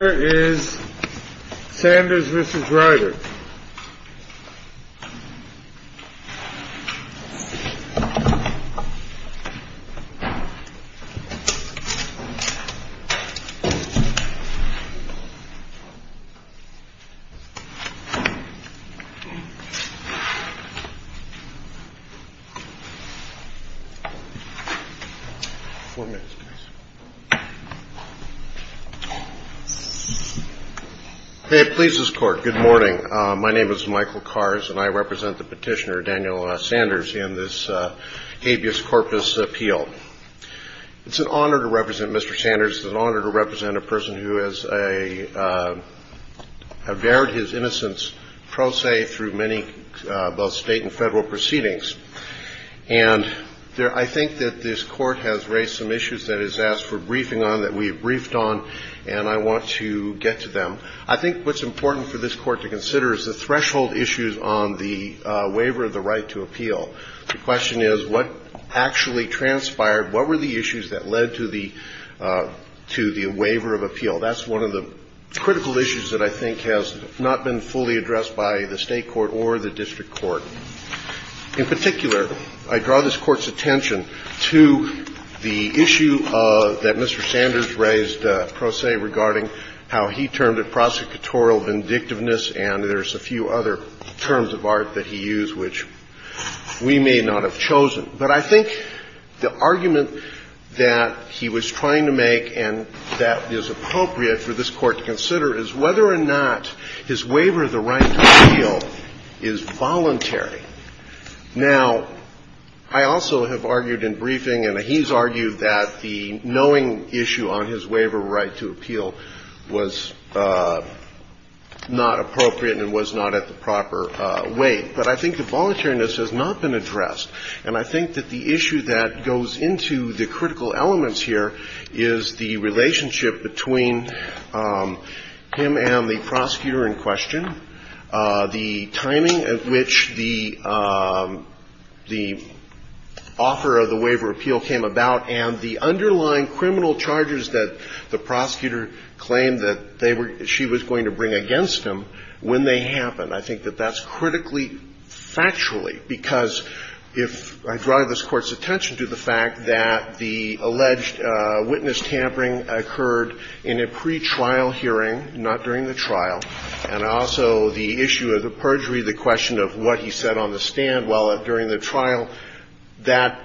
is Sanders versus Ryder. Five minutes, please. It pleases court. Good morning. My name is Michael Kars, and I represent the petitioner, Daniel Sanders, in this habeas corpus appeal. It's an honor to represent Mr. Sanders. It's an honor to represent a person who has averred his innocence, pro se, through many both state and federal proceedings. And I think that this court has raised some issues that it's asked for briefing on, that we have briefed on, and I want to get to them. I think what's important for this court to consider is the threshold issues on the waiver of the right to appeal. The question is, what actually transpired? What were the issues that led to the waiver of appeal? That's one of the critical issues that I think has not been fully addressed by the state court or the district court. In particular, I draw this Court's attention to the issue that Mr. Sanders raised, pro se, regarding how he termed it prosecutorial vindictiveness, and there's a few other terms of art that he used, which we may not have chosen. But I think the argument that he was trying to make and that is appropriate for this Court to consider is whether or not his waiver of the right to appeal is voluntary. Now, I also have argued in briefing, and he's argued that the knowing issue on his waiver of the right to appeal was not appropriate and was not at the proper weight. But I think the voluntariness has not been addressed. And I think that the issue that goes into the critical elements here is the relationship between him and the prosecutor in question, the timing at which the offer of the waiver of appeal came about, and the underlying criminal charges that the prosecutor claimed that they were she was going to bring against him when they happened. And I think that that's critically factually, because if I drive this Court's attention to the fact that the alleged witness tampering occurred in a pretrial hearing, not during the trial, and also the issue of the perjury, the question of what he said on the stand while during the trial, that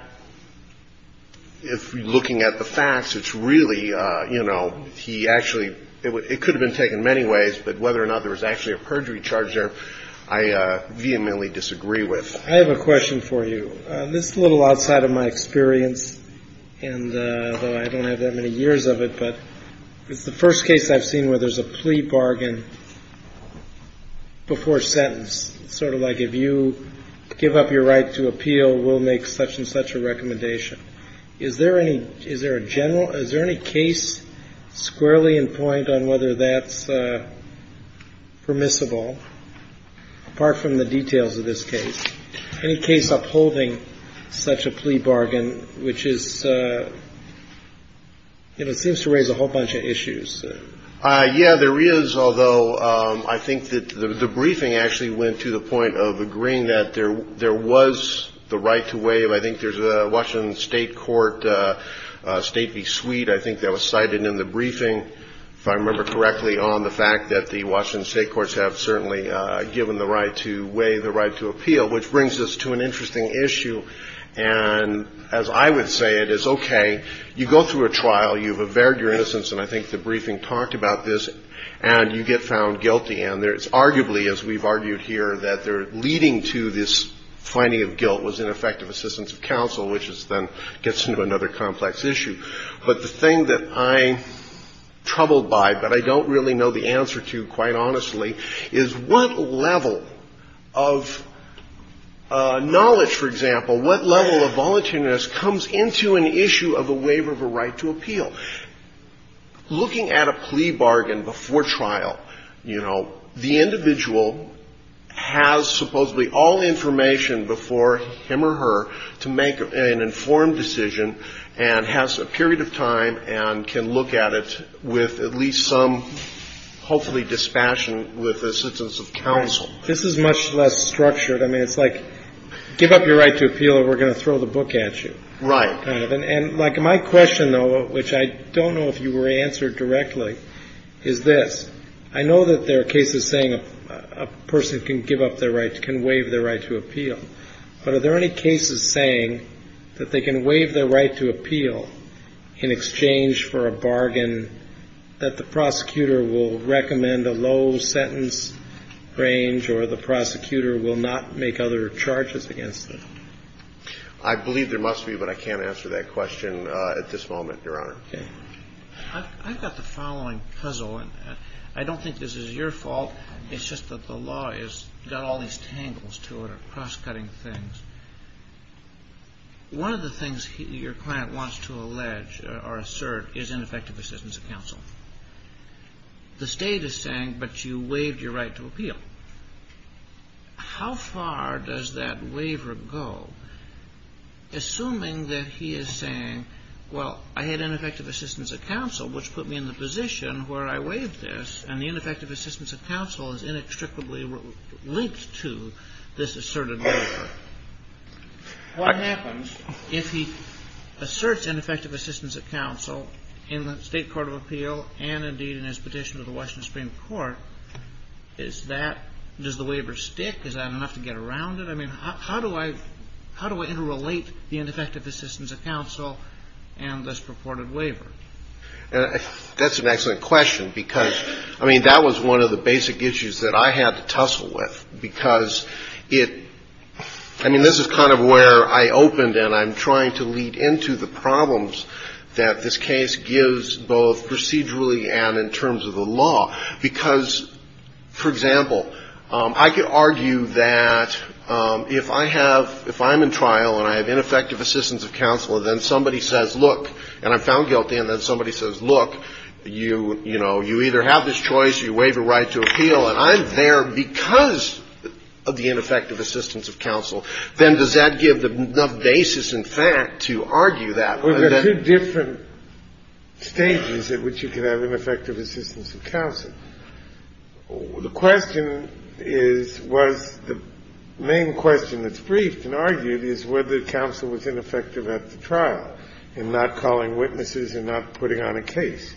if looking at the facts, it's really, you know, he actually – it could have been taken many ways, but whether or not there was actually a perjury charge there, I vehemently disagree with. I have a question for you. This is a little outside of my experience, and though I don't have that many years of it, but it's the first case I've seen where there's a plea bargain before sentence, sort of like if you give up your right to appeal, we'll make such and such a recommendation. Is there any – is there a general – is there any case squarely in point on whether that's permissible, apart from the details of this case? Any case upholding such a plea bargain, which is – you know, it seems to raise a whole bunch of issues. Yeah, there is, although I think that the briefing actually went to the point of agreeing that there was the right to waive – I think there's a Washington State court, State v. Sweet, I think that was cited in the briefing, if I remember correctly, on the fact that the Washington State courts have certainly given the right to waive the right to appeal, which brings us to an interesting issue. And as I would say, it is okay. You go through a trial, you've averred your innocence, and I think the briefing talked about this, and you get found guilty. And there's arguably, as we've argued here, that they're leading to this finding of guilt was ineffective assistance of counsel, which is then – gets into another complex issue. But the thing that I'm troubled by, but I don't really know the answer to, quite honestly, is what level of knowledge, for example, what level of voluntariness comes into an issue of a waiver of a right to appeal? Looking at a plea bargain before trial, you know, the individual has supposedly all information before him or her to make an informed decision and has a period of time and can look at it with at least some, hopefully, dispassion with assistance of counsel. This is much less structured. I mean, it's like give up your right to appeal or we're going to throw the book at you. Right. And my question, though, which I don't know if you were answered directly, is this. I know that there are cases saying a person can give up their right, can waive their right to appeal, but are there any cases saying that they can waive their right to appeal in exchange for a bargain that the prosecutor will recommend a low sentence range or the prosecutor will not make other charges against them? I believe there must be, but I can't answer that question at this moment, Your Honor. Okay. I've got the following puzzle, and I don't think this is your fault. It's just that the law has got all these tangles to it or cross-cutting things. One of the things your client wants to allege or assert is ineffective assistance of counsel. How far does that waiver go? Assuming that he is saying, well, I had ineffective assistance of counsel, which put me in the position where I waived this, and the ineffective assistance of counsel is inextricably linked to this asserted waiver. What happens if he asserts ineffective assistance of counsel in the state court of appeal and, indeed, in his petition to the Washington Supreme Court? Does the waiver stick? Is that enough to get around it? I mean, how do I interrelate the ineffective assistance of counsel and this purported waiver? That's an excellent question, because, I mean, that was one of the basic issues that I had to tussle with, because it – I mean, this is kind of where I opened and I'm trying to lead into the problems that this case gives both procedurally and in terms of the law. Because, for example, I could argue that if I have – if I'm in trial and I have ineffective assistance of counsel, then somebody says, look, and I'm found guilty, and then somebody says, look, you, you know, you either have this choice, you waive your right to appeal, and I'm there because of the ineffective assistance of counsel, then does that give the basis in fact to argue that? Or does that – There are two different stages at which you can have ineffective assistance of counsel. The question is, was the main question that's briefed and argued is whether counsel was ineffective at the trial in not calling witnesses and not putting on a case.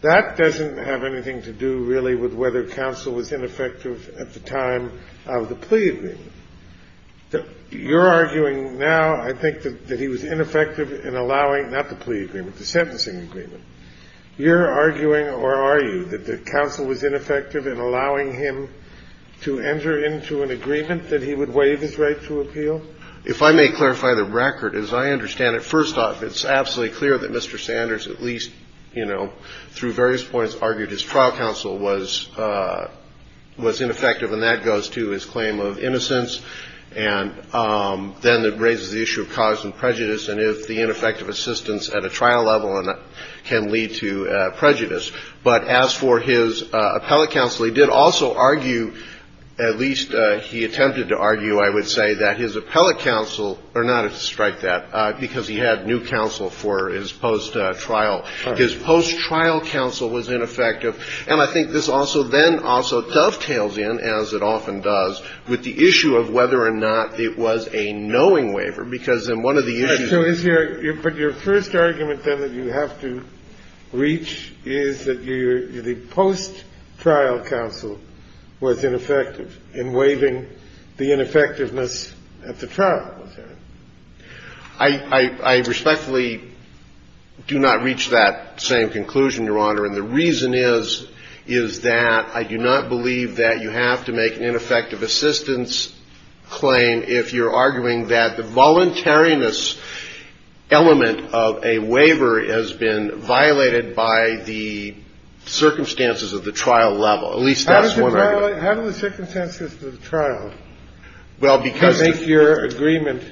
That doesn't have anything to do, really, with whether counsel was ineffective at the time of the plea agreement. You're arguing now, I think, that he was ineffective in allowing – not the plea agreement, the sentencing agreement. You're arguing, or are you, that the counsel was ineffective in allowing him to enter into an agreement that he would waive his right to appeal? If I may clarify the record, as I understand it, first off, it's absolutely clear that Mr. Sanders, at least, you know, through various points, argued his trial counsel was ineffective, and that goes to his claim of innocence. And then it raises the issue of cause and prejudice and if the ineffective assistance at a trial level can lead to prejudice. But as for his appellate counsel, he did also argue, at least he attempted to argue, I would say, that his appellate counsel – or not to strike that, because he had new counsel for his post-trial. His post-trial counsel was ineffective. And I think this also then also dovetails in, as it often does, with the issue of whether or not it was a knowing waiver, because then one of the issues is – But your first argument, then, that you have to reach is that the post-trial counsel was ineffective in waiving the ineffectiveness at the trial. I respectfully do not reach that same conclusion, Your Honor. And the reason is, is that I do not believe that you have to make an ineffective assistance claim if you're arguing that the voluntariness element of a waiver has been violated by the circumstances of the trial level. At least that's one argument. How do the circumstances of the trial make your agreement?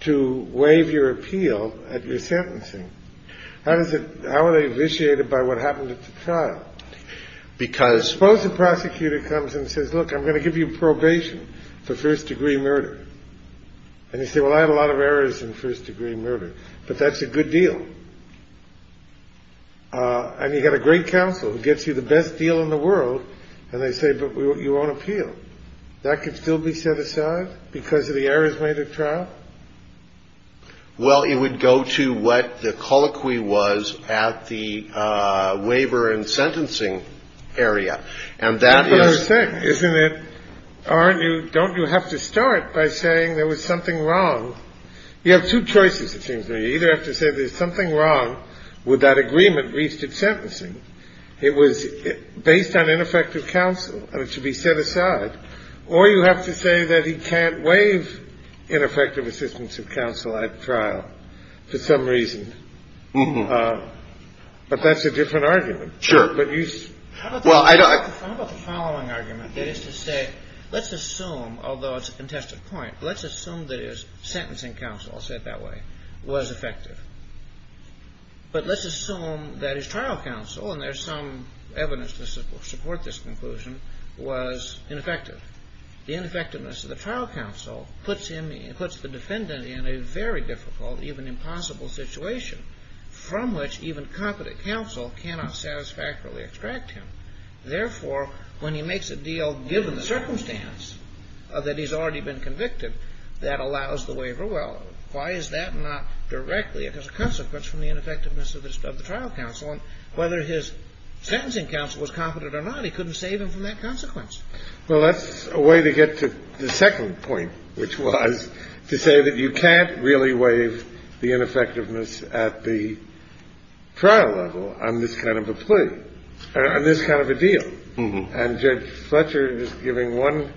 To waive your appeal at your sentencing. How are they vitiated by what happened at the trial? Because – Suppose the prosecutor comes and says, look, I'm going to give you probation for first-degree murder. And you say, well, I had a lot of errors in first-degree murder. But that's a good deal. And you've got a great counsel who gets you the best deal in the world, and they say, but you won't appeal. That can still be set aside because of the errors made at trial? Well, it would go to what the colloquy was at the waiver and sentencing area. That's what I'm saying, isn't it? Aren't you – don't you have to start by saying there was something wrong? You have two choices, it seems to me. You either have to say there's something wrong with that agreement reached at sentencing. It was based on ineffective counsel, and it should be set aside. Or you have to say that he can't waive ineffective assistance of counsel at trial for some reason. But that's a different argument. Sure. But you – How about the following argument, that is to say, let's assume, although it's a contested point, let's assume that his sentencing counsel, I'll say it that way, was effective. But let's assume that his trial counsel, and there's some evidence to support this conclusion, was ineffective. The ineffectiveness of the trial counsel puts him – puts the defendant in a very difficult, even impossible situation from which even competent counsel cannot satisfactorily extract him. Therefore, when he makes a deal given the circumstance that he's already been convicted, that allows the waiver. Well, why is that not directly as a consequence from the ineffectiveness of the trial counsel? And whether his sentencing counsel was competent or not, he couldn't save him from that consequence. Well, that's a way to get to the second point, which was to say that you can't really waive the ineffectiveness at the trial level on this kind of a plea, on this kind of a deal. And Judge Fletcher is giving one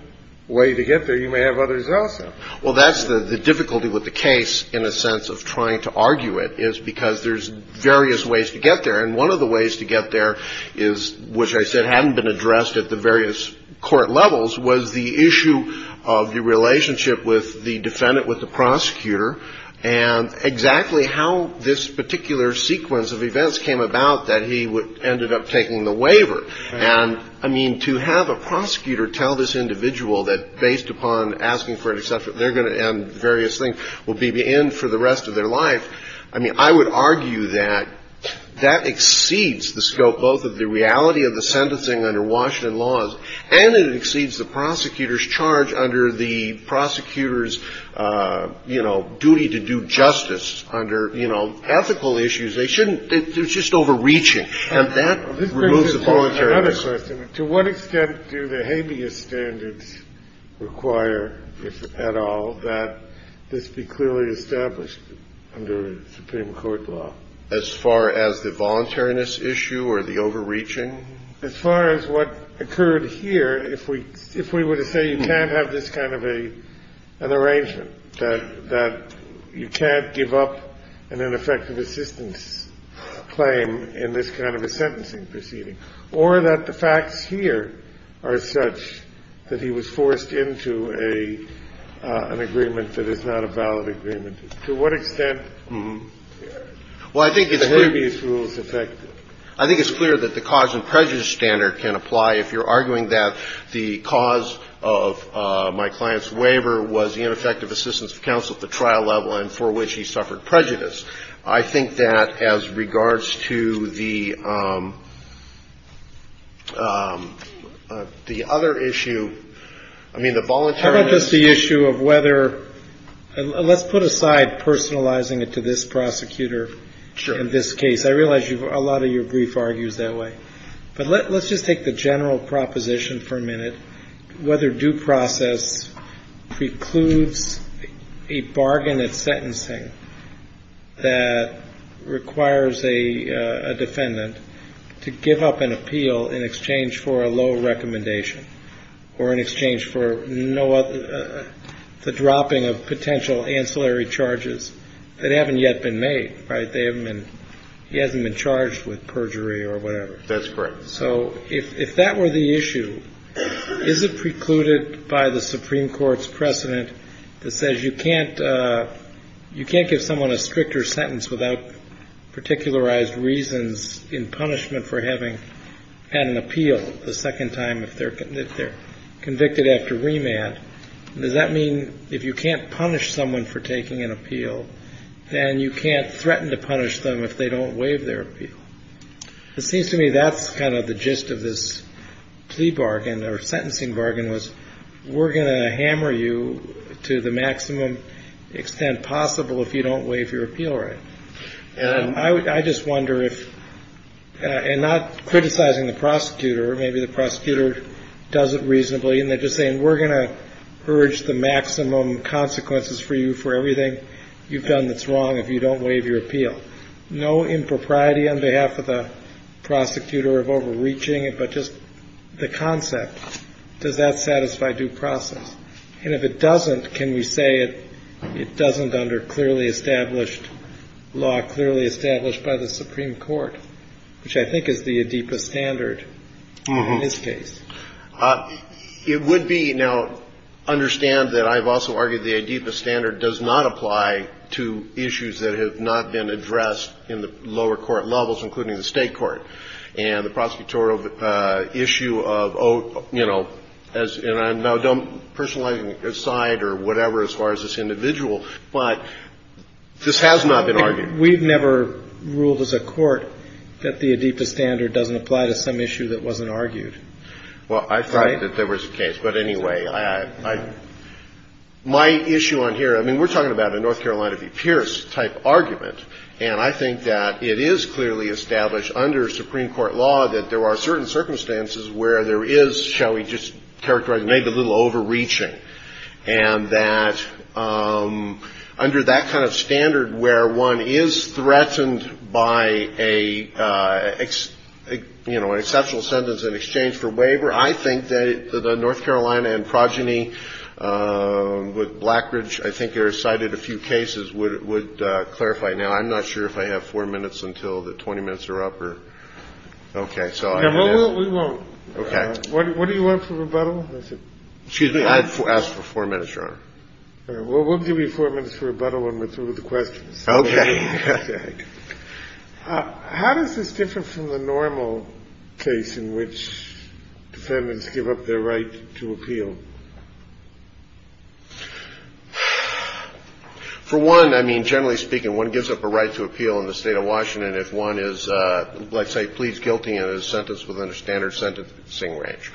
way to get there. You may have others also. Well, that's the difficulty with the case in a sense of trying to argue it, is because there's various ways to get there. And one of the ways to get there is, which I said hadn't been addressed at the various court levels, was the issue of the relationship with the defendant with the prosecutor and exactly how this particular sequence of events came about that he ended up taking the waiver. And, I mean, to have a prosecutor tell this individual that based upon asking for a waiver, etc., they're going to end various things, will be the end for the rest of their life, I mean, I would argue that that exceeds the scope both of the reality of the sentencing under Washington laws and it exceeds the prosecutor's charge under the prosecutor's, you know, duty to do justice under, you know, ethical issues. They shouldn't they're just overreaching. And that removes the voluntary. Another question. To what extent do the habeas standards require, if at all, that this be clearly established under Supreme Court law? As far as the voluntariness issue or the overreaching? As far as what occurred here, if we were to say you can't have this kind of an arrangement, that you can't give up an ineffective assistance claim in this kind of a sentencing proceeding, or that the facts here are such that he was forced into an agreement that is not a valid agreement, to what extent are the habeas rules effective? I think it's clear that the cause and prejudice standard can apply if you're arguing that the cause of my client's waiver was the ineffective assistance of counsel at the trial level and for which he suffered prejudice. I think that as regards to the other issue, I mean, the voluntariness. How about just the issue of whether, let's put aside personalizing it to this prosecutor in this case. Sure. I realize a lot of your brief argues that way. And whether due process precludes a bargain at sentencing that requires a defendant to give up an appeal in exchange for a low recommendation or in exchange for the dropping of potential ancillary charges that haven't yet been made, right? He hasn't been charged with perjury or whatever. That's correct. So if that were the issue, is it precluded by the Supreme Court's precedent that says you can't give someone a stricter sentence without particularized reasons in punishment for having had an appeal the second time if they're convicted after remand? Does that mean if you can't punish someone for taking an appeal, then you can't threaten to punish them if they don't waive their appeal? It seems to me that's kind of the gist of this plea bargain or sentencing bargain was, we're going to hammer you to the maximum extent possible if you don't waive your appeal right. And I just wonder if, and not criticizing the prosecutor, maybe the prosecutor does it reasonably, and they're just saying, we're going to urge the maximum consequences for you for everything you've done that's wrong if you don't waive your appeal. No impropriety on behalf of the prosecutor of overreaching it, but just the concept, does that satisfy due process? And if it doesn't, can we say it doesn't under clearly established law, clearly established by the Supreme Court, which I think is the Adeepa standard in this case? It would be, now, understand that I've also argued the Adeepa standard does not apply to issues that have not been addressed in the lower court levels, including the State court. And the prosecutorial issue of, you know, and I don't personalize your side or whatever as far as this individual, but this has not been argued. We've never ruled as a court that the Adeepa standard doesn't apply to some issue that wasn't argued. Well, I thought that there was a case. But anyway, I, my issue on here, I mean, we're talking about a North Carolina v. Pierce type argument. And I think that it is clearly established under Supreme Court law that there are certain circumstances where there is, shall we just characterize, maybe a little overreaching. And that under that kind of standard where one is threatened by a, you know, an exceptional sentence in exchange for waiver, I think that the North Carolina and with Blackridge, I think there are cited a few cases would clarify. Now, I'm not sure if I have four minutes until the 20 minutes are up or. Okay. So we won't. Okay. What do you want for rebuttal? Excuse me. I asked for four minutes, Your Honor. Well, we'll give you four minutes for rebuttal and we'll throw the questions. Okay. How does this differ from the normal case in which defendants give up their right to appeal? For one, I mean, generally speaking, one gives up a right to appeal in the state of Washington if one is, let's say, pleads guilty and is sentenced within a standard sentencing range.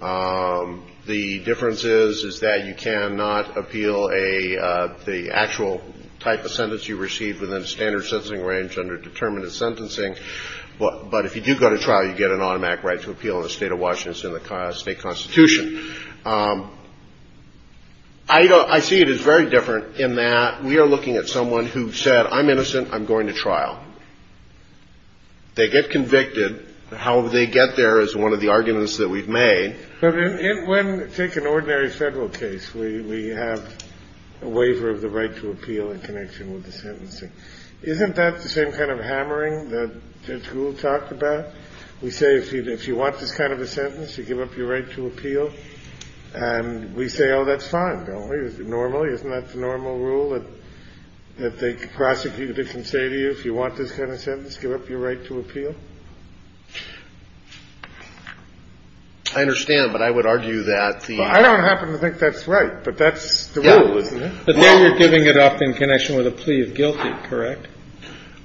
The difference is, is that you cannot appeal the actual type of sentence you receive within a standard sentencing range under determinate sentencing. But if you do go to trial, you get an automatic right to appeal in the state of Washington. I see it as very different in that we are looking at someone who said, I'm innocent, I'm going to trial. They get convicted. However, they get there is one of the arguments that we've made. But when, take an ordinary Federal case where you have a waiver of the right to appeal in connection with the sentencing, isn't that the same kind of hammering that Judge Gould talked about? We say, if you want this kind of a sentence, you give up your right to appeal. And we say, oh, that's fine, don't we? It's normal. Isn't that the normal rule that they could prosecute it and say to you, if you want this kind of sentence, give up your right to appeal? I understand. But I would argue that the ---- I don't happen to think that's right. But that's the rule, isn't it? But then you're giving it up in connection with a plea of guilty, correct?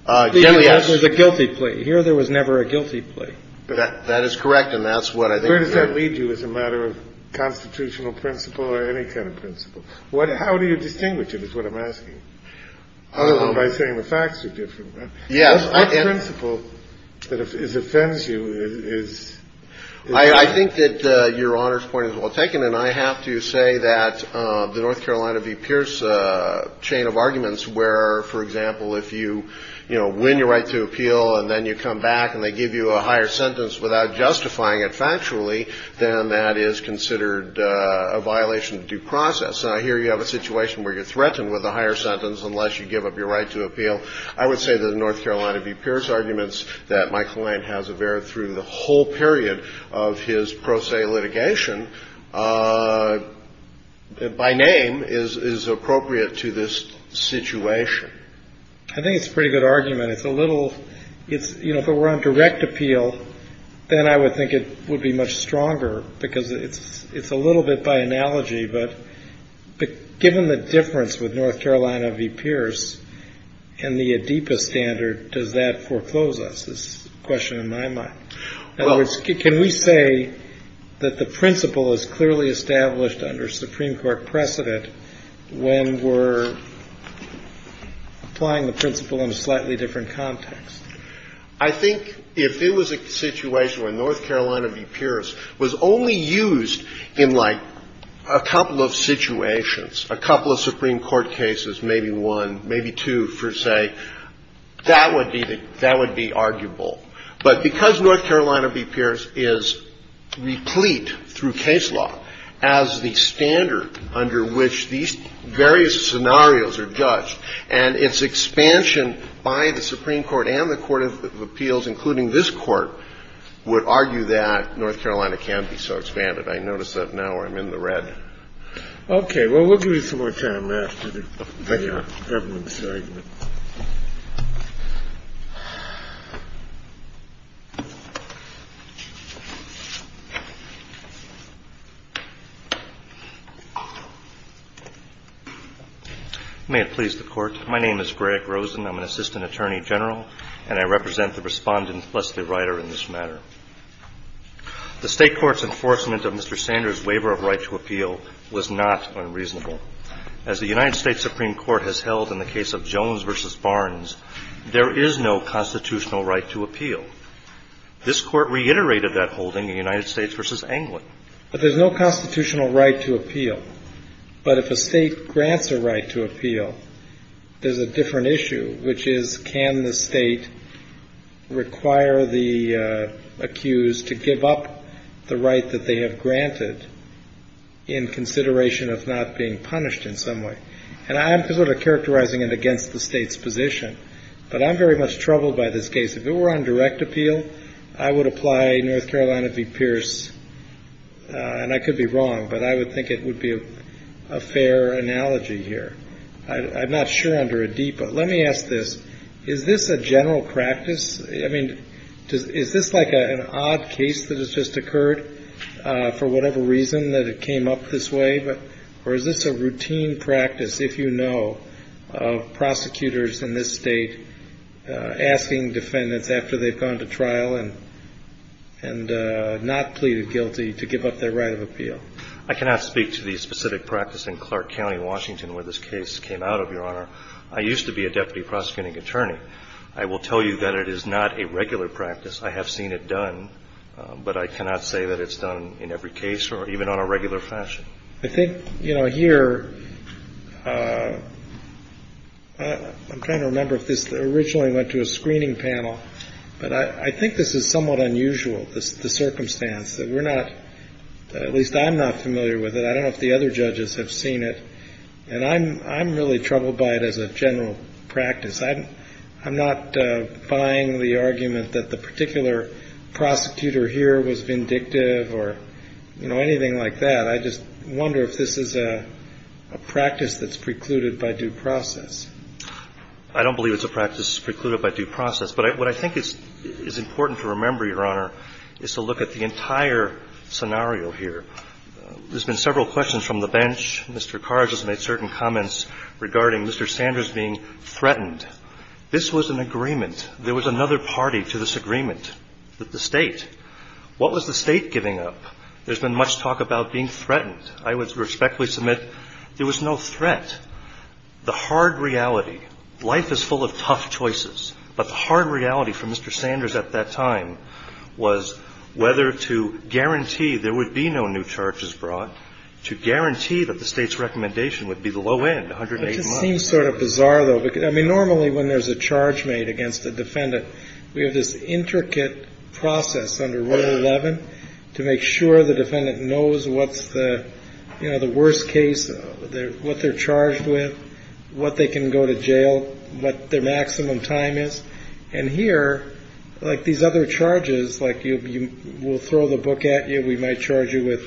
Generally, yes. There's a guilty plea. Here, there was never a guilty plea. That is correct. And that's what I think ---- Where does that lead you as a matter of constitutional principle or any kind of principle? How do you distinguish it is what I'm asking, other than by saying the facts are different. Yes. What principle that offends you is ---- I think that Your Honor's point is well taken. And I have to say that the North Carolina v. Pierce chain of arguments where, for example, if you, you know, win your right to appeal and then you come back and they give you a higher sentence without justifying it factually, then that is considered a violation of due process. And I hear you have a situation where you're threatened with a higher sentence unless you give up your right to appeal. I would say that the North Carolina v. Pierce arguments that my client has averred through the whole period of his pro se litigation by name is appropriate to this situation. I think it's a pretty good argument. It's a little ---- it's, you know, if it were on direct appeal, then I would think it would be much stronger because it's a little bit by analogy. But given the difference with North Carolina v. Pierce and the ADIPA standard, does that foreclose us is the question in my mind. In other words, can we say that the principle is clearly established under Supreme Court precedent when we're applying the principle in a slightly different context? I think if it was a situation where North Carolina v. Pierce was only used in like a couple of situations, a couple of Supreme Court cases, maybe one, maybe two per se, that would be arguable. But because North Carolina v. Pierce is replete through case law as the standard under which these various scenarios are judged and its expansion by the Supreme Court and the Court of Appeals, including this Court, would argue that North Carolina can't be so expanded. I notice that now where I'm in the red. Okay. Well, we'll give you some more time after the government's argument. May it please the Court. My name is Greg Rosen. I'm an assistant attorney general, and I represent the Respondent, Leslie Ryder, in this matter. The State court's enforcement of Mr. Sanders' waiver of right to appeal was not unreasonable. As the United States Supreme Court has held in the case of Jones v. Barnes, there is no constitutional right to appeal. This Court reiterated that holding in United States v. Anglin. But there's no constitutional right to appeal. But if a state grants a right to appeal, there's a different issue, which is can the state require the accused to give up the right that they have granted in consideration of not being punished in some way? And I'm sort of characterizing it against the state's position, but I'm very much troubled by this case. If it were on direct appeal, I would apply North Carolina v. Pierce. And I could be wrong, but I would think it would be a fair analogy here. I'm not sure under a D, but let me ask this. Is this a general practice? I mean, is this like an odd case that has just occurred for whatever reason that it came up this way? Or is this a routine practice, if you know, of prosecutors in this state asking defendants after they've gone to trial and not pleaded guilty to give up their right of appeal? I cannot speak to the specific practice in Clark County, Washington, where this case came out of, Your Honor. I used to be a deputy prosecuting attorney. I will tell you that it is not a regular practice. I have seen it done, but I cannot say that it's done in every case or even on a regular fashion. I think, you know, here, I'm trying to remember if this originally went to a screening panel, but I think this is somewhat unusual, the circumstance, that we're not, at least I'm not familiar with it. I don't know if the other judges have seen it. And I'm really troubled by it as a general practice. I'm not buying the argument that the particular prosecutor here was vindictive or, you know, anything like that. I just wonder if this is a practice that's precluded by due process. I don't believe it's a practice precluded by due process. But what I think is important to remember, Your Honor, is to look at the entire scenario here. There's been several questions from the bench. Mr. Carr just made certain comments regarding Mr. Sanders being threatened. This was an agreement. There was another party to this agreement, the State. What was the State giving up? There's been much talk about being threatened. I would respectfully submit there was no threat. The hard reality, life is full of tough choices, but the hard reality for Mr. Sanders at that time was whether to guarantee there would be no new charges brought, to guarantee that the State's recommendation would be the low end, 108 months. It just seems sort of bizarre, though. I mean, normally when there's a charge made against a defendant, we have this intricate process under Rule 11 to make sure the defendant knows what's the worst case, what they're charged with, what they can go to jail, what their maximum time is. And here, like these other charges, like we'll throw the book at you, we might charge you with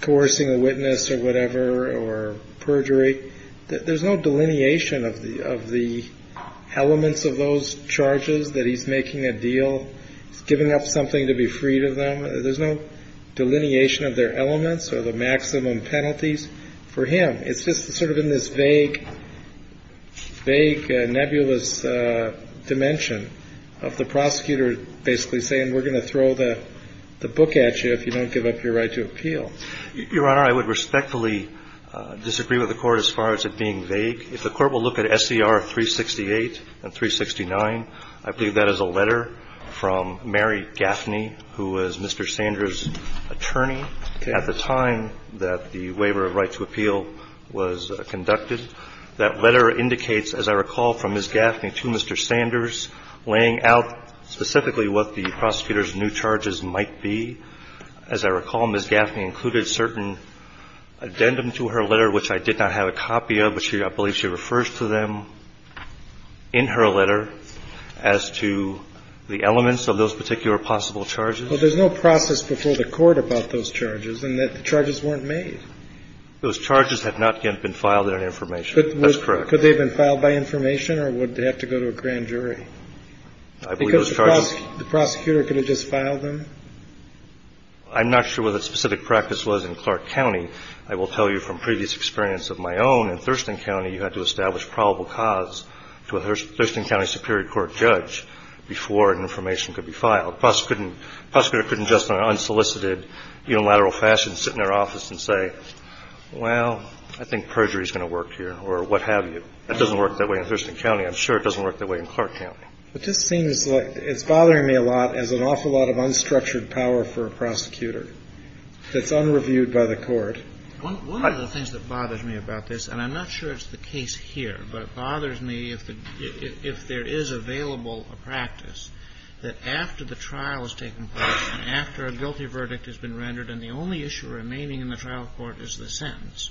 coercing a witness or whatever or perjury, there's no delineation of the elements of those charges that he's making a deal, giving up something to be freed of them. There's no delineation of their elements or the maximum penalties for him. It's just sort of in this vague, vague, nebulous dimension of the prosecutor basically saying we're going to throw the book at you if you don't give up your right to appeal. Your Honor, I would respectfully disagree with the Court as far as it being vague. If the Court will look at SCR 368 and 369, I believe that is a letter from Mary Gaffney, who was Mr. Sanders' attorney at the time that the waiver of right to appeal was conducted. That letter indicates, as I recall from Ms. Gaffney to Mr. Sanders, laying out specifically what the prosecutor's new charges might be. As I recall, Ms. Gaffney included a certain addendum to her letter, which I did not have a copy of, but I believe she refers to them in her letter as to the elements of those particular possible charges. Well, there's no process before the Court about those charges and that the charges weren't made. Those charges have not yet been filed on information. That's correct. Could they have been filed by information or would they have to go to a grand jury? I believe those charges... Because the prosecutor could have just filed them. I'm not sure what the specific practice was in Clark County. I will tell you from previous experience of my own, in Thurston County you had to establish probable cause to a Thurston County Superior Court judge before information could be filed. The prosecutor couldn't just in an unsolicited unilateral fashion sit in their office and say, well, I think perjury is going to work here, or what have you. That doesn't work that way in Thurston County. I'm sure it doesn't work that way in Clark County. It just seems like it's bothering me a lot as an awful lot of unstructured power for a prosecutor that's unreviewed by the Court. One of the things that bothers me about this, and I'm not sure it's the case here, but it bothers me if there is available a practice that after the trial has taken place and after a guilty verdict has been rendered and the only issue remaining in the trial court is the sentence,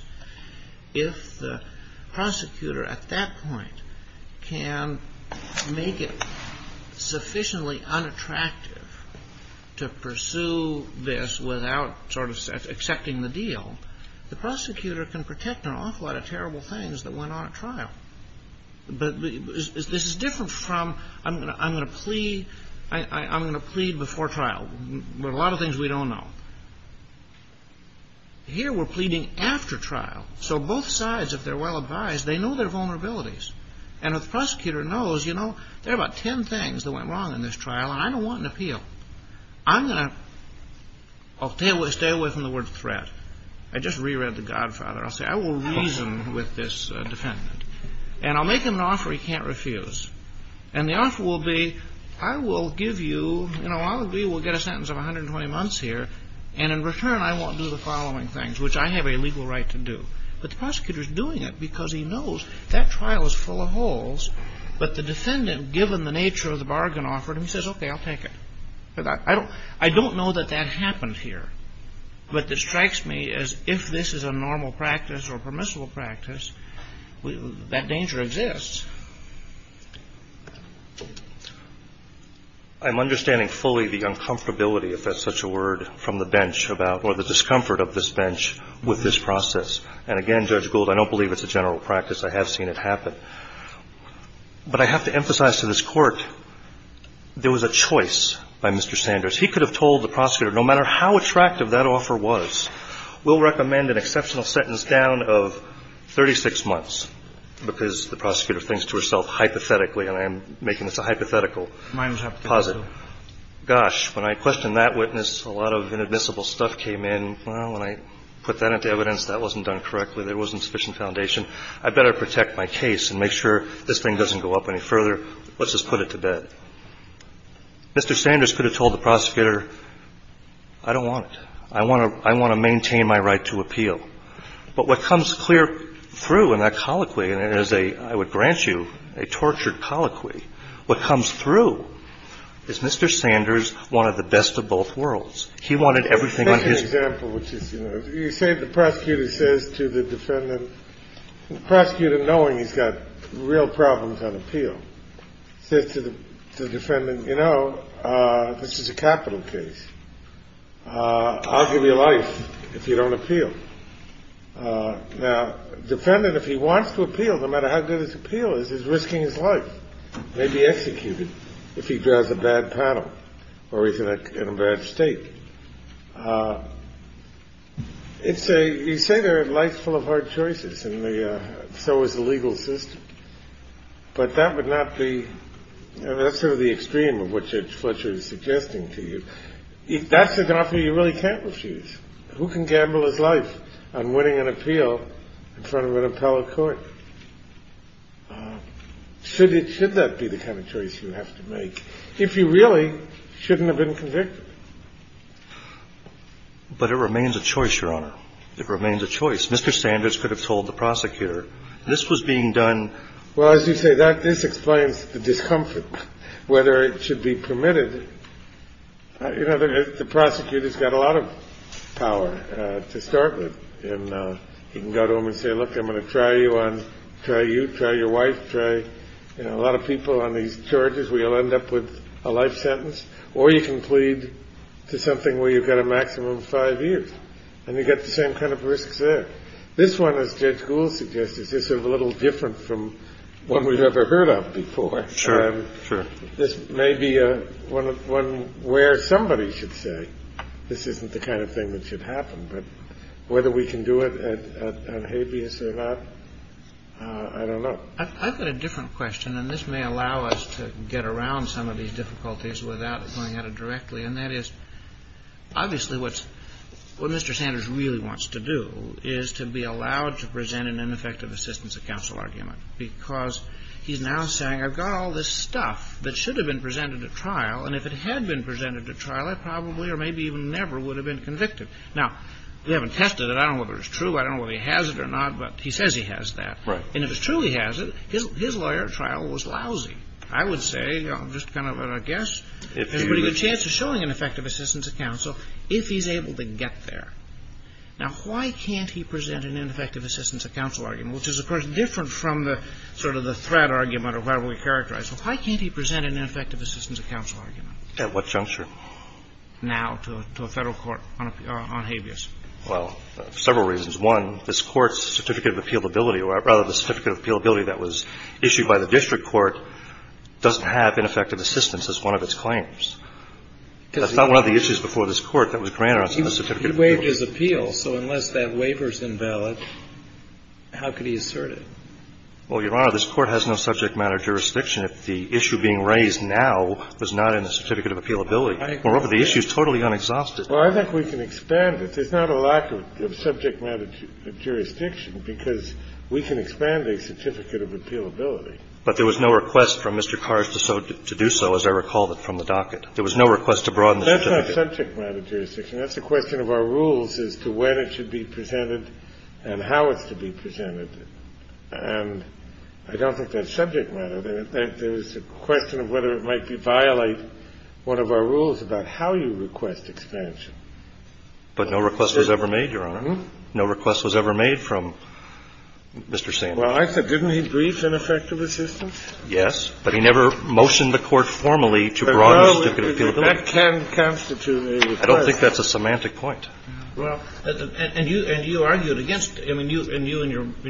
if the prosecutor at that point can make it pursue this without sort of accepting the deal, the prosecutor can protect an awful lot of terrible things that went on at trial. But this is different from I'm going to plead before trial. There are a lot of things we don't know. Here we're pleading after trial. So both sides, if they're well advised, they know their vulnerabilities. And if the prosecutor knows, you know, there are about ten things that went wrong in this trial and I don't want an appeal. I'm going to stay away from the word threat. I just reread The Godfather. I'll say I will reason with this defendant. And I'll make him an offer he can't refuse. And the offer will be I will give you, you know, I'll agree we'll get a sentence of 120 months here, and in return I won't do the following things, which I have a legal right to do. But the prosecutor is doing it because he knows that trial is full of holes, but the defendant, given the nature of the bargain offered, he says, okay, I'll take it. I don't know that that happened here. But this strikes me as if this is a normal practice or permissible practice, that danger exists. I'm understanding fully the uncomfortability, if that's such a word, from the bench about or the discomfort of this bench with this process. And again, Judge Gould, I don't believe it's a general practice. I have seen it happen. But I have to emphasize to this Court, there was a choice by Mr. Sanders. He could have told the prosecutor, no matter how attractive that offer was, we'll recommend an exceptional sentence down of 36 months, because the prosecutor thinks to herself hypothetically, and I am making this a hypothetical position. Gosh, when I questioned that witness, a lot of inadmissible stuff came in. Well, when I put that into evidence, that wasn't done correctly. There wasn't sufficient foundation. I better protect my case and make sure this thing doesn't go up any further. Let's just put it to bed. Mr. Sanders could have told the prosecutor, I don't want it. I want to maintain my right to appeal. But what comes clear through in that colloquy, and it is a, I would grant you, a tortured colloquy, what comes through is Mr. Sanders wanted the best of both worlds. He wanted everything on his behalf. The other example, which is, you know, you say to the prosecutor, he says to the defendant, the prosecutor, knowing he's got real problems on appeal, says to the defendant, you know, this is a capital case. I'll give you life if you don't appeal. Now, defendant, if he wants to appeal, no matter how good his appeal is, he's risking his life, may be executed if he draws a bad panel or he's in a bad state. It's a, you say they're a life full of hard choices, and so is the legal system. But that would not be, that's sort of the extreme of what Fletcher is suggesting to you. That's an offer you really can't refuse. Who can gamble his life on winning an appeal in front of an appellate court? Should that be the kind of choice you have to make if you really shouldn't have been convicted? But it remains a choice, Your Honor. It remains a choice. Mr. Sanders could have told the prosecutor. This was being done. Well, as you say, this explains the discomfort, whether it should be permitted. You know, the prosecutor's got a lot of power to start with, and you can go to him and say, look, I'm going to try you on, try you, try your wife, try, you know, a lot of people on these charges where you'll end up with a life sentence, or you can plead to something where you've got a maximum of five years and you get the same kind of risks there. This one, as Judge Gould suggested, is sort of a little different from one we've ever heard of before. Sure. Sure. This may be one where somebody should say this isn't the kind of thing that should happen, but whether we can do it on habeas or not, I don't know. Well, I've got a different question, and this may allow us to get around some of these difficulties without going at it directly, and that is, obviously, what Mr. Sanders really wants to do is to be allowed to present an ineffective assistance of counsel argument because he's now saying I've got all this stuff that should have been presented at trial, and if it had been presented at trial, I probably or maybe even never would have been convicted. Now, they haven't tested it. I don't know whether it's true. I don't know whether he has it or not, but he says he has that. Right. And if he truly has it, his lawyer at trial was lousy. I would say, just kind of a guess, there's a pretty good chance of showing an effective assistance of counsel if he's able to get there. Now, why can't he present an ineffective assistance of counsel argument, which is, of course, different from the sort of the threat argument or whatever we characterize. Why can't he present an ineffective assistance of counsel argument? At what juncture? Now to a Federal court on habeas. Well, several reasons. One, this Court's certificate of appealability, or rather the certificate of appealability that was issued by the district court doesn't have ineffective assistance as one of its claims. That's not one of the issues before this Court that was granted on the certificate of appealability. He waived his appeal. So unless that waiver is invalid, how could he assert it? Well, Your Honor, this Court has no subject matter jurisdiction. The issue being raised now was not in the certificate of appealability. Moreover, the issue is totally unexhausted. Well, I think we can expand it. There's not a lack of subject matter jurisdiction because we can expand a certificate of appealability. But there was no request from Mr. Kars to do so, as I recall, from the docket. There was no request to broaden the certificate. That's not subject matter jurisdiction. That's a question of our rules as to when it should be presented and how it's to be presented. And I don't think that's subject matter. There's a question of whether it might violate one of our rules about how you request expansion. But no request was ever made, Your Honor. No request was ever made from Mr. Sandler. Well, I said didn't he brief ineffective assistance? Yes. But he never motioned the Court formally to broaden the certificate of appealability. That can constitute a request. I don't think that's a semantic point. Well, and you argued against it. I mean, you and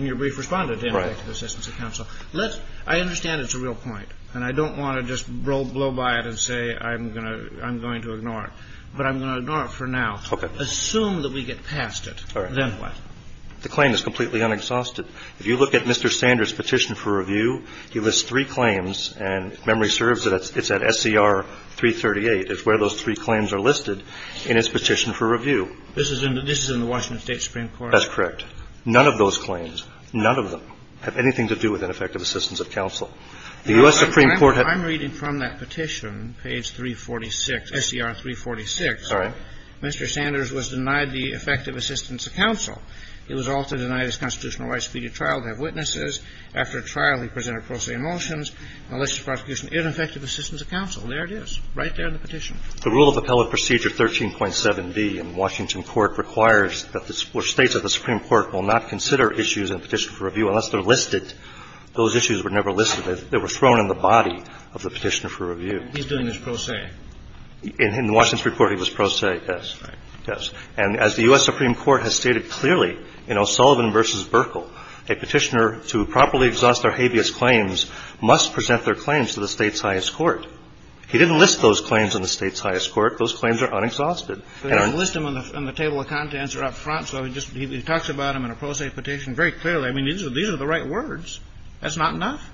your brief responded to ineffective assistance of counsel. Right. Well, let's see. I understand it's a real point. And I don't want to just blow by it and say I'm going to ignore it. But I'm going to ignore it for now. Okay. Assume that we get past it. All right. Then what? The claim is completely unexhausted. If you look at Mr. Sanders' petition for review, he lists three claims. And if memory serves, it's at SCR 338. It's where those three claims are listed in his petition for review. This is in the Washington State Supreme Court? That's correct. None of those claims, none of them, have anything to do with ineffective assistance of counsel. The U.S. Supreme Court had to do with that. I'm reading from that petition, page 346, SCR 346. All right. Mr. Sanders was denied the effective assistance of counsel. He was also denied his constitutional rights to be at trial, to have witnesses. After trial, he presented pro se motions, malicious prosecution, ineffective assistance of counsel. There it is. Right there in the petition. The rule of appellate procedure 13.7b in Washington Court requires that the States Supreme Court will not consider issues in a petition for review unless they're listed. Those issues were never listed. They were thrown in the body of the petitioner for review. He's doing this pro se. In Washington's report, he was pro se, yes. Right. Yes. And as the U.S. Supreme Court has stated clearly in O'Sullivan v. Burkle, a petitioner to properly exhaust their habeas claims must present their claims to the State's highest court. He didn't list those claims in the State's highest court. Those claims are unexhausted. He didn't list them on the table of contents or up front, so he just talks about them in a pro se petition very clearly. I mean, these are the right words. That's not enough.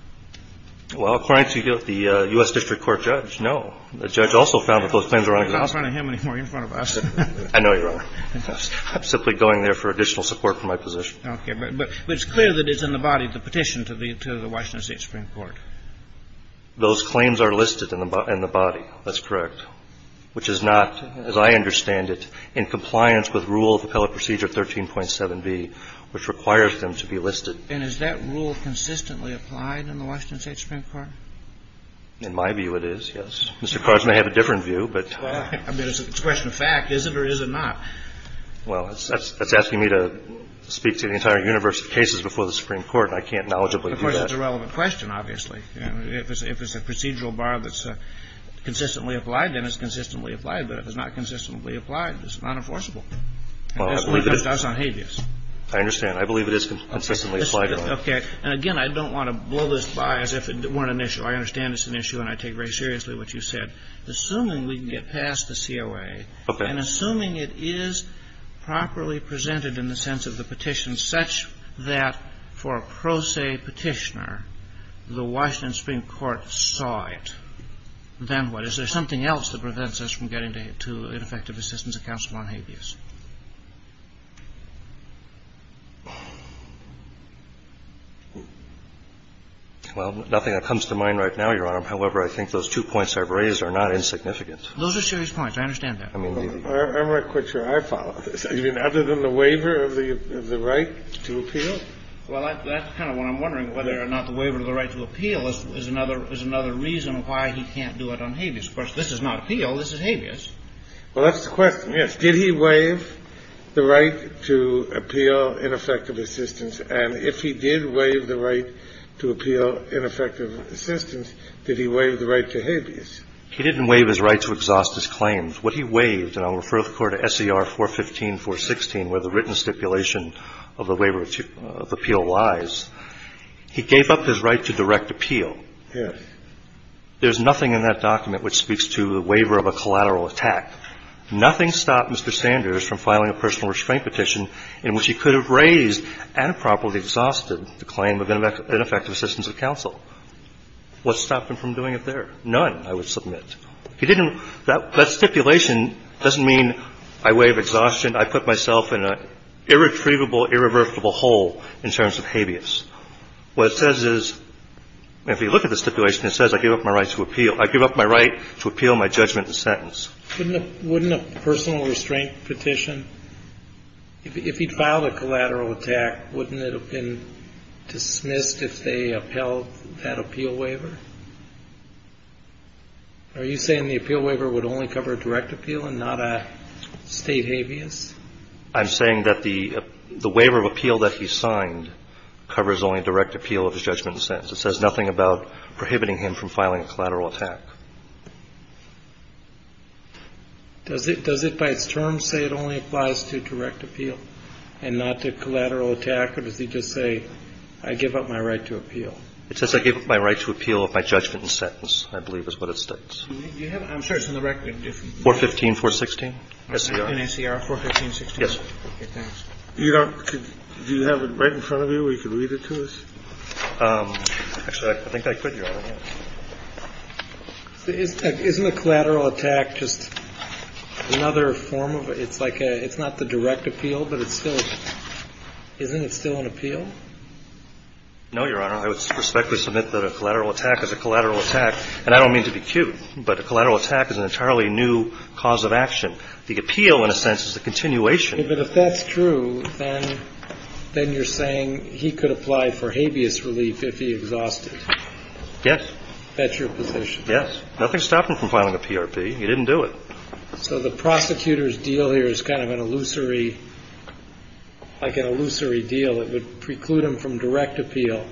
Well, according to the U.S. District Court judge, no. The judge also found that those claims were unexhausted. I'm not talking to him anymore. He's in front of us. I know you are. I'm simply going there for additional support for my position. Okay. But it's clear that it's in the body of the petition to the Washington State Supreme Those claims are listed in the body. That's correct. And it's a question of fact, which is not, as I understand it, in compliance with rule of appellate procedure 13.7b, which requires them to be listed. And is that rule consistently applied in the Washington State Supreme Court? In my view, it is, yes. Mr. Carson may have a different view, but. I mean, it's a question of fact. Is it or is it not? Well, that's asking me to speak to the entire universe of cases before the Supreme Court, and I can't knowledgeably do that. Of course, it's a relevant question, obviously. If it's a procedural bar that's consistently applied, then it's consistently applied. But if it's not consistently applied, it's not enforceable. Well, I believe it is. I believe it is consistently applied. Okay. And, again, I don't want to blow this by as if it weren't an issue. I understand it's an issue, and I take very seriously what you said. Assuming we can get past the COA. And assuming it is properly presented in the sense of the petition such that for a pro reason the Supreme Court saw it, then what? Is there something else that prevents us from getting to ineffective assistance of counsel on habeas? Well, nothing that comes to mind right now, Your Honor. However, I think those two points I've raised are not insignificant. Those are serious points. I understand that. I'm not quite sure I follow this. I mean, other than the waiver of the right to appeal? Well, that's kind of what I'm wondering, whether or not the waiver of the right to appeal is another reason why he can't do it on habeas. Of course, this is not appeal. This is habeas. Well, that's the question, yes. Did he waive the right to appeal ineffective assistance? And if he did waive the right to appeal ineffective assistance, did he waive the right to habeas? He didn't waive his right to exhaust his claims. What he waived, and I'll refer the Court to S.E.R. 415, 416, where the written stipulation of the waiver of appeal lies, he gave up his right to direct appeal. Yes. There's nothing in that document which speaks to the waiver of a collateral attack. Nothing stopped Mr. Sanders from filing a personal restraint petition in which he could have raised and properly exhausted the claim of ineffective assistance of counsel. What stopped him from doing it there? None, I would submit. That stipulation doesn't mean I waive exhaustion. I put myself in an irretrievable, irreversible hole in terms of habeas. What it says is, if you look at the stipulation, it says I gave up my right to appeal. I gave up my right to appeal my judgment and sentence. Wouldn't a personal restraint petition, if he filed a collateral attack, wouldn't it have been dismissed if they upheld that appeal waiver? Are you saying the appeal waiver would only cover direct appeal and not a state habeas? I'm saying that the waiver of appeal that he signed covers only direct appeal of his judgment and sentence. It says nothing about prohibiting him from filing a collateral attack. Does it by its term say it only applies to direct appeal and not to collateral attack, or does it just say I give up my right to appeal? No, it says I gave up my right to appeal of my judgment and sentence, I believe is what it states. I'm sure it's in the record. 415, 416. In SCR, 415, 416. Yes. Okay, thanks. Do you have it right in front of you where you can read it to us? Actually, I think I could, Your Honor. Isn't a collateral attack just another form of, it's like a, it's not the direct appeal, but it's still, isn't it still an appeal? No, Your Honor. I would respectfully submit that a collateral attack is a collateral attack. And I don't mean to be cute, but a collateral attack is an entirely new cause of action. The appeal, in a sense, is a continuation. But if that's true, then you're saying he could apply for habeas relief if he exhausted. Yes. That's your position. Yes. Nothing stopped him from filing a PRP. He didn't do it. So the prosecutor's deal here is kind of an illusory, like an illusory deal. It would preclude him from direct appeal,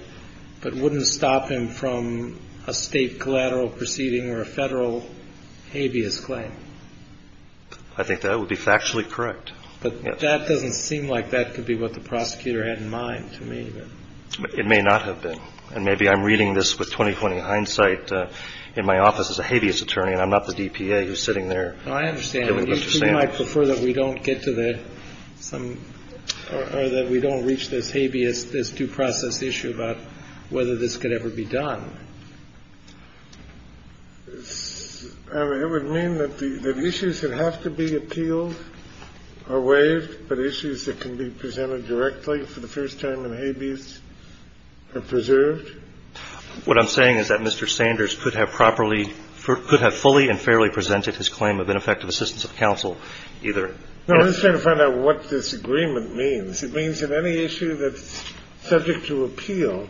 but wouldn't stop him from a state collateral proceeding or a federal habeas claim. I think that would be factually correct. But that doesn't seem like that could be what the prosecutor had in mind to me. It may not have been. And maybe I'm reading this with 20-20 hindsight in my office as a habeas attorney, and I'm not the DPA who's sitting there. I understand. I would prefer that we don't get to the some or that we don't reach this habeas, this due process issue about whether this could ever be done. It would mean that the issues that have to be appealed are waived, but issues that can be presented directly for the first time in habeas are preserved. What I'm saying is that Mr. Sanders could have properly – could have fully and fairly presented his claim of ineffective assistance of counsel either. No, I'm just trying to find out what this agreement means. It means that any issue that's subject to appeal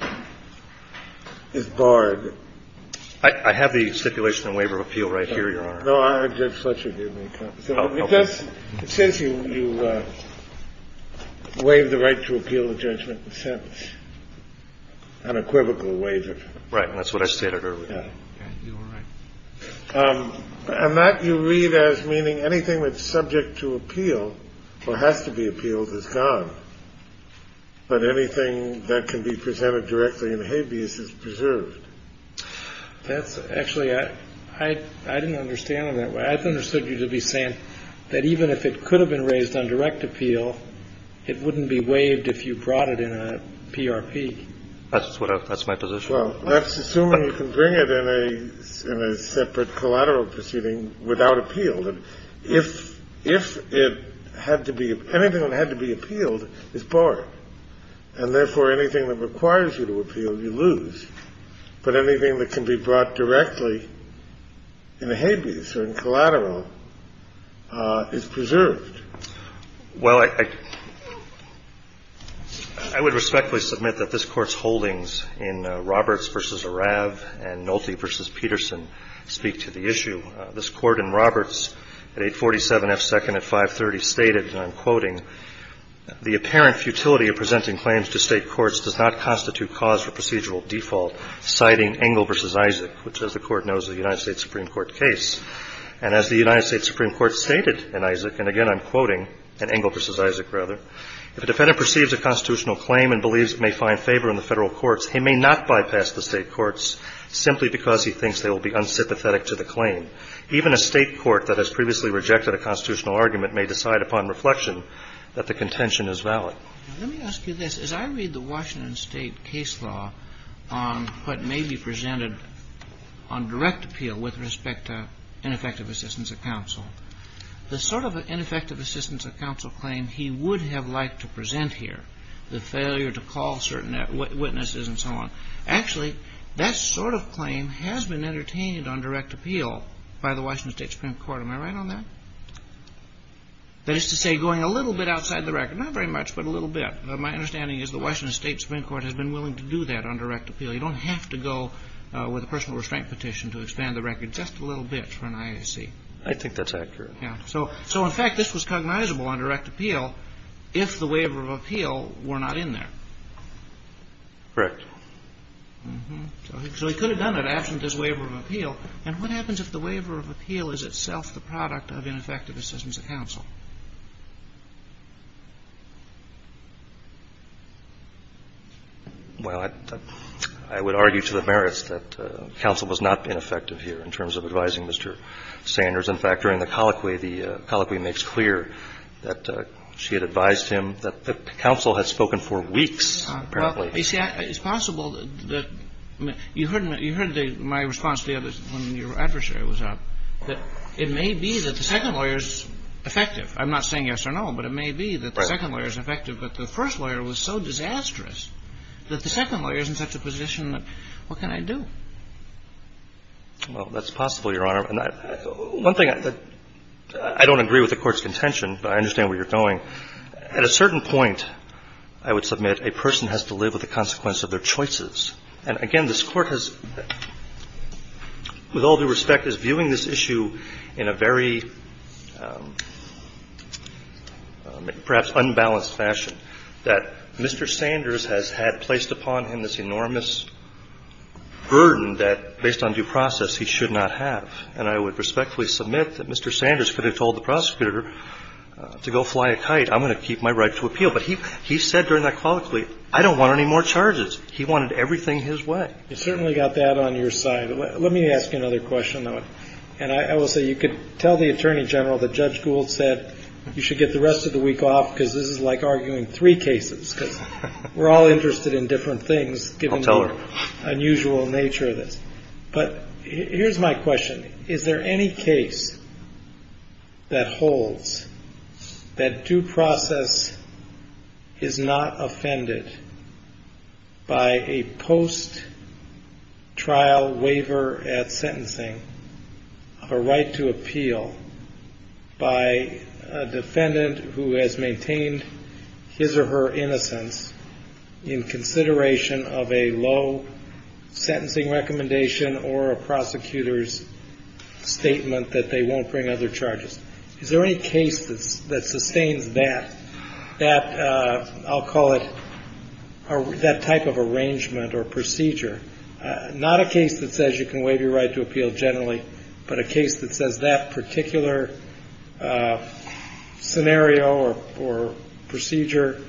is barred. I have the stipulation and waiver of appeal right here, Your Honor. No, Judge Fletcher gave me a copy. Oh, okay. It says here you waive the right to appeal the judgment in a sentence, unequivocal waiver. Right, and that's what I stated earlier. And that you read as meaning anything that's subject to appeal or has to be appealed is gone, but anything that can be presented directly in habeas is preserved. That's – actually, I didn't understand it that way. I understood you to be saying that even if it could have been raised on direct appeal, it wouldn't be waived if you brought it in a PRP. That's what I – that's my position. Well, let's assume you can bring it in a separate collateral proceeding without appeal. If it had to be – anything that had to be appealed is barred, and therefore anything that requires you to appeal, you lose. But anything that can be brought directly in a habeas or in collateral is preserved. Well, I would respectfully submit that this Court's holdings in Roberts v. Arav and Nolte v. Peterson speak to the issue. This Court in Roberts at 847 F. Second at 530 stated, and I'm quoting, the apparent futility of presenting claims to State courts does not constitute cause for procedural default, citing Engle v. Isaac, which, as the Court knows, is a United States Supreme Court case. And as the United States Supreme Court stated in Isaac – and again, I'm quoting in Engle v. Isaac, rather – if a defendant perceives a constitutional claim and believes it may find favor in the Federal courts, he may not bypass the State courts simply because he thinks they will be unsympathetic to the claim. Even a State court that has previously rejected a constitutional argument may decide upon reflection that the contention is valid. Now, let me ask you this. As I read the Washington State case law on what may be presented on direct appeal with respect to ineffective assistance of counsel, the sort of ineffective assistance of counsel claim he would have liked to present here, the failure to call certain witnesses and so on, actually, that sort of claim has been entertained on direct appeal by the Washington State Supreme Court. Am I right on that? That is to say, going a little bit outside the record. Not very much, but a little bit. My understanding is the Washington State Supreme Court has been willing to do that on direct appeal. You don't have to go with a personal restraint petition to expand the record just a little bit for an IAC. I think that's accurate. So, in fact, this was cognizable on direct appeal if the waiver of appeal were not in there. Correct. So he could have done it absent his waiver of appeal. And what happens if the waiver of appeal is itself the product of ineffective assistance of counsel? Well, I would argue to the merits that counsel was not ineffective here in terms of advising Mr. Sanders. In fact, during the colloquy, the colloquy makes clear that she had advised him that the counsel had spoken for weeks, apparently. Well, you see, it's possible that you heard my response to the others when your adversary was up, that it may be that the second lawyer is effective. I'm not saying yes or no, but it may be that the second lawyer is effective, but the first lawyer was so disastrous that the second lawyer is in such a position that what can I do? Well, that's possible, Your Honor. One thing I don't agree with the Court's contention, but I understand where you're going. At a certain point, I would submit, a person has to live with the consequence of their choices. And, again, this Court has, with all due respect, is viewing this issue in a very perhaps unbalanced fashion, that Mr. Sanders has had placed upon him this enormous burden that, based on due process, he should not have. And I would respectfully submit that Mr. Sanders could have told the prosecutor to go fly a kite. I'm going to keep my right to appeal. But he said during that colloquy, I don't want any more charges. He wanted everything his way. You certainly got that on your side. Let me ask you another question, though. And I will say you could tell the Attorney General that Judge Gould said you should get the rest of the week off because this is like arguing three cases, because we're all interested in different things, given the unusual nature of this. But here's my question. Is there any case that holds that due process is not offended by a post-trial waiver at sentencing, a right to appeal by a defendant who has maintained his or her innocence in consideration of a low sentencing recommendation or a prosecutor's statement that they won't bring other charges? Is there any case that sustains that? I'll call it that type of arrangement or procedure. Not a case that says you can waive your right to appeal generally, but a case that says that particular scenario or procedure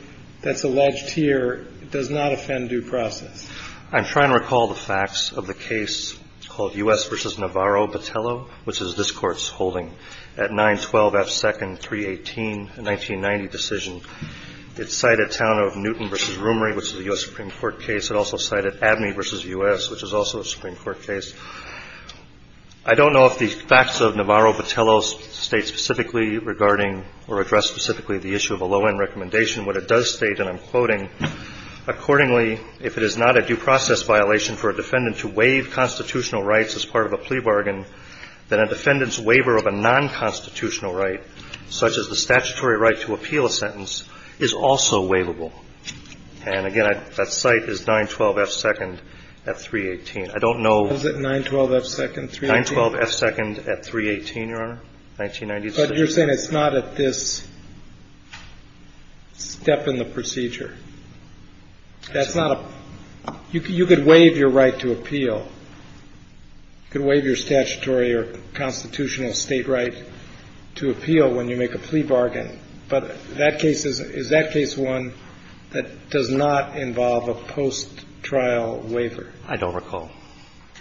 that's alleged here does not offend due process. I'm trying to recall the facts of the case called U.S. v. Navarro-Battello, which is this Court's holding at 912 F. Second 318, a 1990 decision. It cited Town of Newton v. Roomery, which is a U.S. Supreme Court case. It also cited Abney v. U.S., which is also a Supreme Court case. I don't know if the facts of Navarro-Battello state specifically regarding or address specifically the issue of a low-end recommendation. What it does state, and I'm quoting, accordingly, if it is not a due process violation for a defendant to waive constitutional rights as part of a plea bargain, then a defendant's waiver of a nonconstitutional right, such as the statutory right to appeal a sentence, is also waivable. And, again, that site is 912 F. Second at 318. I don't know. What is it, 912 F. Second 318? 912 F. Second at 318, Your Honor, 1990 decision. But you're saying it's not at this step in the procedure. That's not a – you could waive your right to appeal. You could waive your statutory or constitutional state right to appeal when you make a plea bargain. But that case is – is that case one that does not involve a post-trial waiver? I don't recall.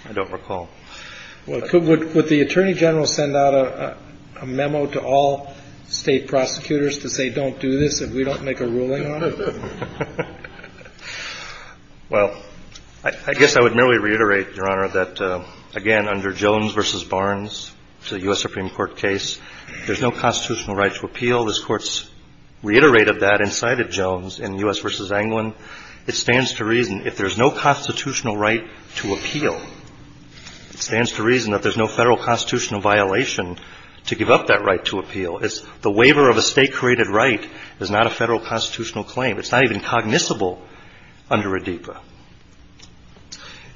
I don't recall. Well, could – would the Attorney General send out a memo to all state prosecutors to say don't do this if we don't make a ruling on it? Well, I guess I would merely reiterate, Your Honor, that, again, under Jones v. Barnes, the U.S. Supreme Court case, there's no constitutional right to appeal. This Court's reiterated that inside of Jones in U.S. v. Englund. It stands to reason, if there's no constitutional right to appeal, it stands to reason that there's no Federal constitutional violation to give up that right to appeal. It's – the waiver of a state-created right is not a Federal constitutional claim. It's not even cognizable under ADIPA.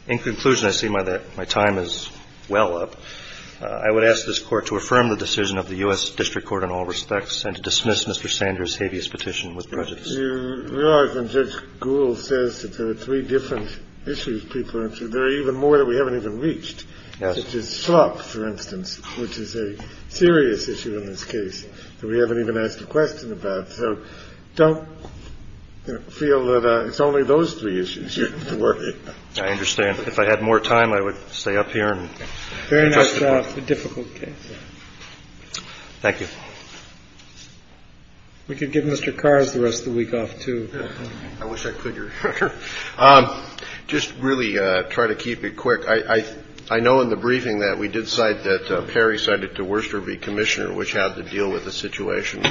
In conclusion, I see my time is well up. I would ask this Court to affirm the decision of the U.S. District Court in all respects and to dismiss Mr. Sanders' habeas petition with prejudice. Your Honor, when Judge Gould says that there are three different issues people are interested in, there are even more that we haven't even reached. Yes. Such as slop, for instance, which is a serious issue in this case that we haven't even asked a question about. So don't feel that it's only those three issues you're interested in. I understand. If I had more time, I would stay up here. Very nice job. A difficult case. Thank you. We could give Mr. Carrs the rest of the week off, too. I wish I could, Your Honor. Just really try to keep it quick. I know in the briefing that we did cite that Perry cited to Worcester v. Commissioner, which had to deal with the situation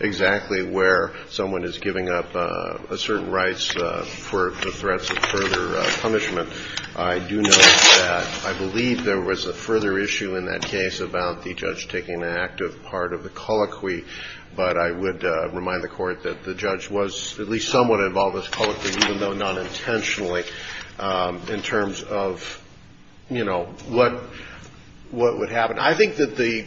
exactly where someone is giving up a certain rights for the threats of further punishment. I do note that I believe there was a further issue in that case about the judge taking an active part of the colloquy, but I would remind the Court that the judge was at least somewhat involved in this colloquy, even though not intentionally, in terms of, you know, what would happen. I think that the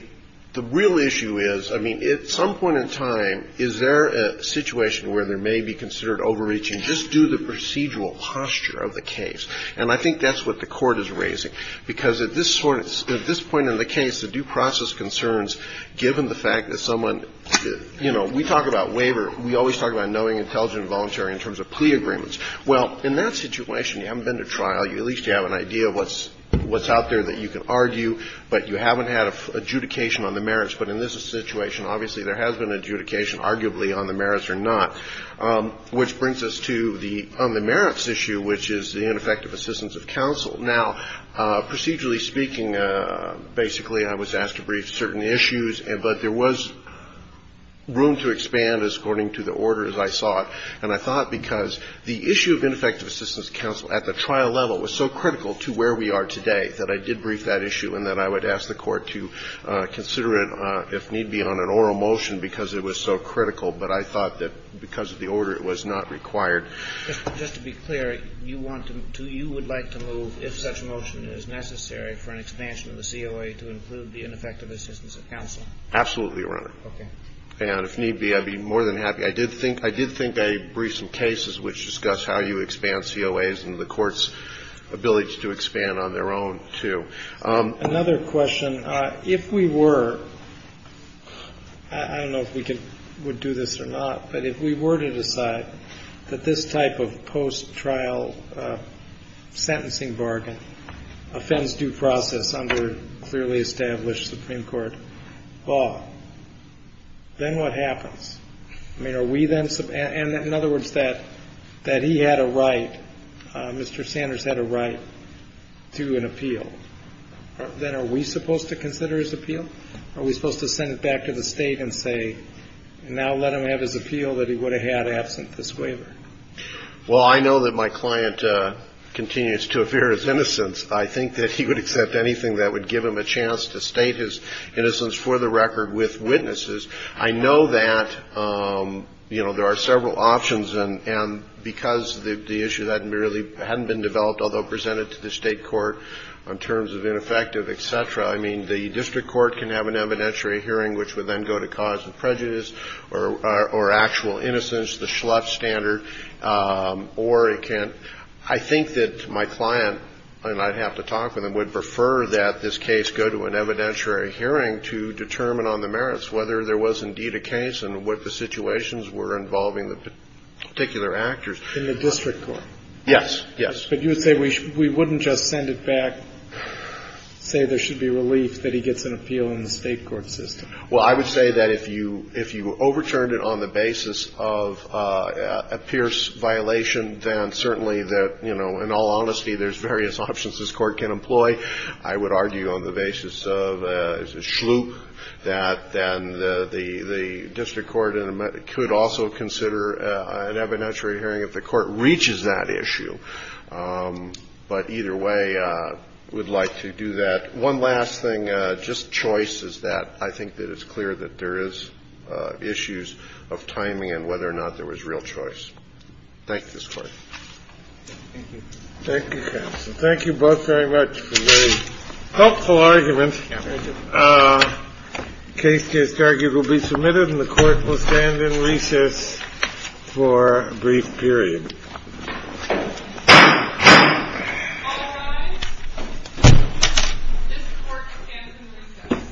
real issue is, I mean, at some point in time, is there a situation where there may be considered overreaching? Just do the procedural posture of the case. And I think that's what the Court is raising. Because at this point in the case, the due process concerns, given the fact that someone, you know, we talk about waiver. We always talk about knowing, intelligent, and voluntary in terms of plea agreements. Well, in that situation, you haven't been to trial. At least you have an idea of what's out there that you can argue. But you haven't had adjudication on the merits. But in this situation, obviously, there has been adjudication, arguably, on the merits or not. Which brings us to the merits issue, which is the ineffective assistance of counsel. Now, procedurally speaking, basically, I was asked to brief certain issues, but there was room to expand as according to the orders I sought. And I thought because the issue of ineffective assistance of counsel at the trial level was so critical to where we are today that I did brief that issue and that I would ask the Court to consider it, if need be, on an oral motion because it was so critical. But I thought that because of the order, it was not required. Kennedy. Just to be clear, you want to you would like to move, if such a motion is necessary for an expansion of the COA to include the ineffective assistance of counsel? Absolutely, Your Honor. Okay. And if need be, I'd be more than happy. I did think I briefed some cases which discuss how you expand COAs and the Court's ability to expand on their own, too. Another question. If we were, I don't know if we would do this or not, but if we were to decide that this type of post-trial sentencing bargain offends due process under clearly established Supreme Court law, then what happens? I mean, are we then, and in other words, that he had a right, Mr. Sanders had a right to an appeal. Then are we supposed to consider his appeal? Are we supposed to send it back to the State and say, now let him have his appeal that he would have had absent this waiver? Well, I know that my client continues to appear as innocent. I think that he would accept anything that would give him a chance to state his innocence for the record with witnesses. I know that, you know, there are several options, and because the issue hadn't really been developed, although presented to the State court on terms of ineffective, et cetera, I mean, the district court can have an evidentiary hearing which would then go to cause of prejudice or actual innocence, the Schlupf standard. Or it can't. I think that my client, and I'd have to talk with him, would prefer that this case go to an evidentiary hearing to determine on the merits whether there was indeed a case and what the situations were involving the particular actors. In the district court? Yes, yes. But you would say we wouldn't just send it back, say there should be relief that he gets an appeal in the State court system? Well, I would say that if you overturned it on the basis of a Pierce violation, then certainly that, you know, in all honesty, there's various options this Court can employ. I would argue on the basis of Schlupf that then the district court could also consider an evidentiary hearing if the court reaches that issue. But either way, we'd like to do that. One last thing, just choice, is that I think that it's clear that there is issues of timing and whether or not there was real choice. Thank this Court. Thank you. Thank you, counsel. Thank you both very much for a very helpful argument. Thank you. The case to be argued will be submitted and the Court will stand in recess for a brief period. All rise. This Court stands in recess. Thank you.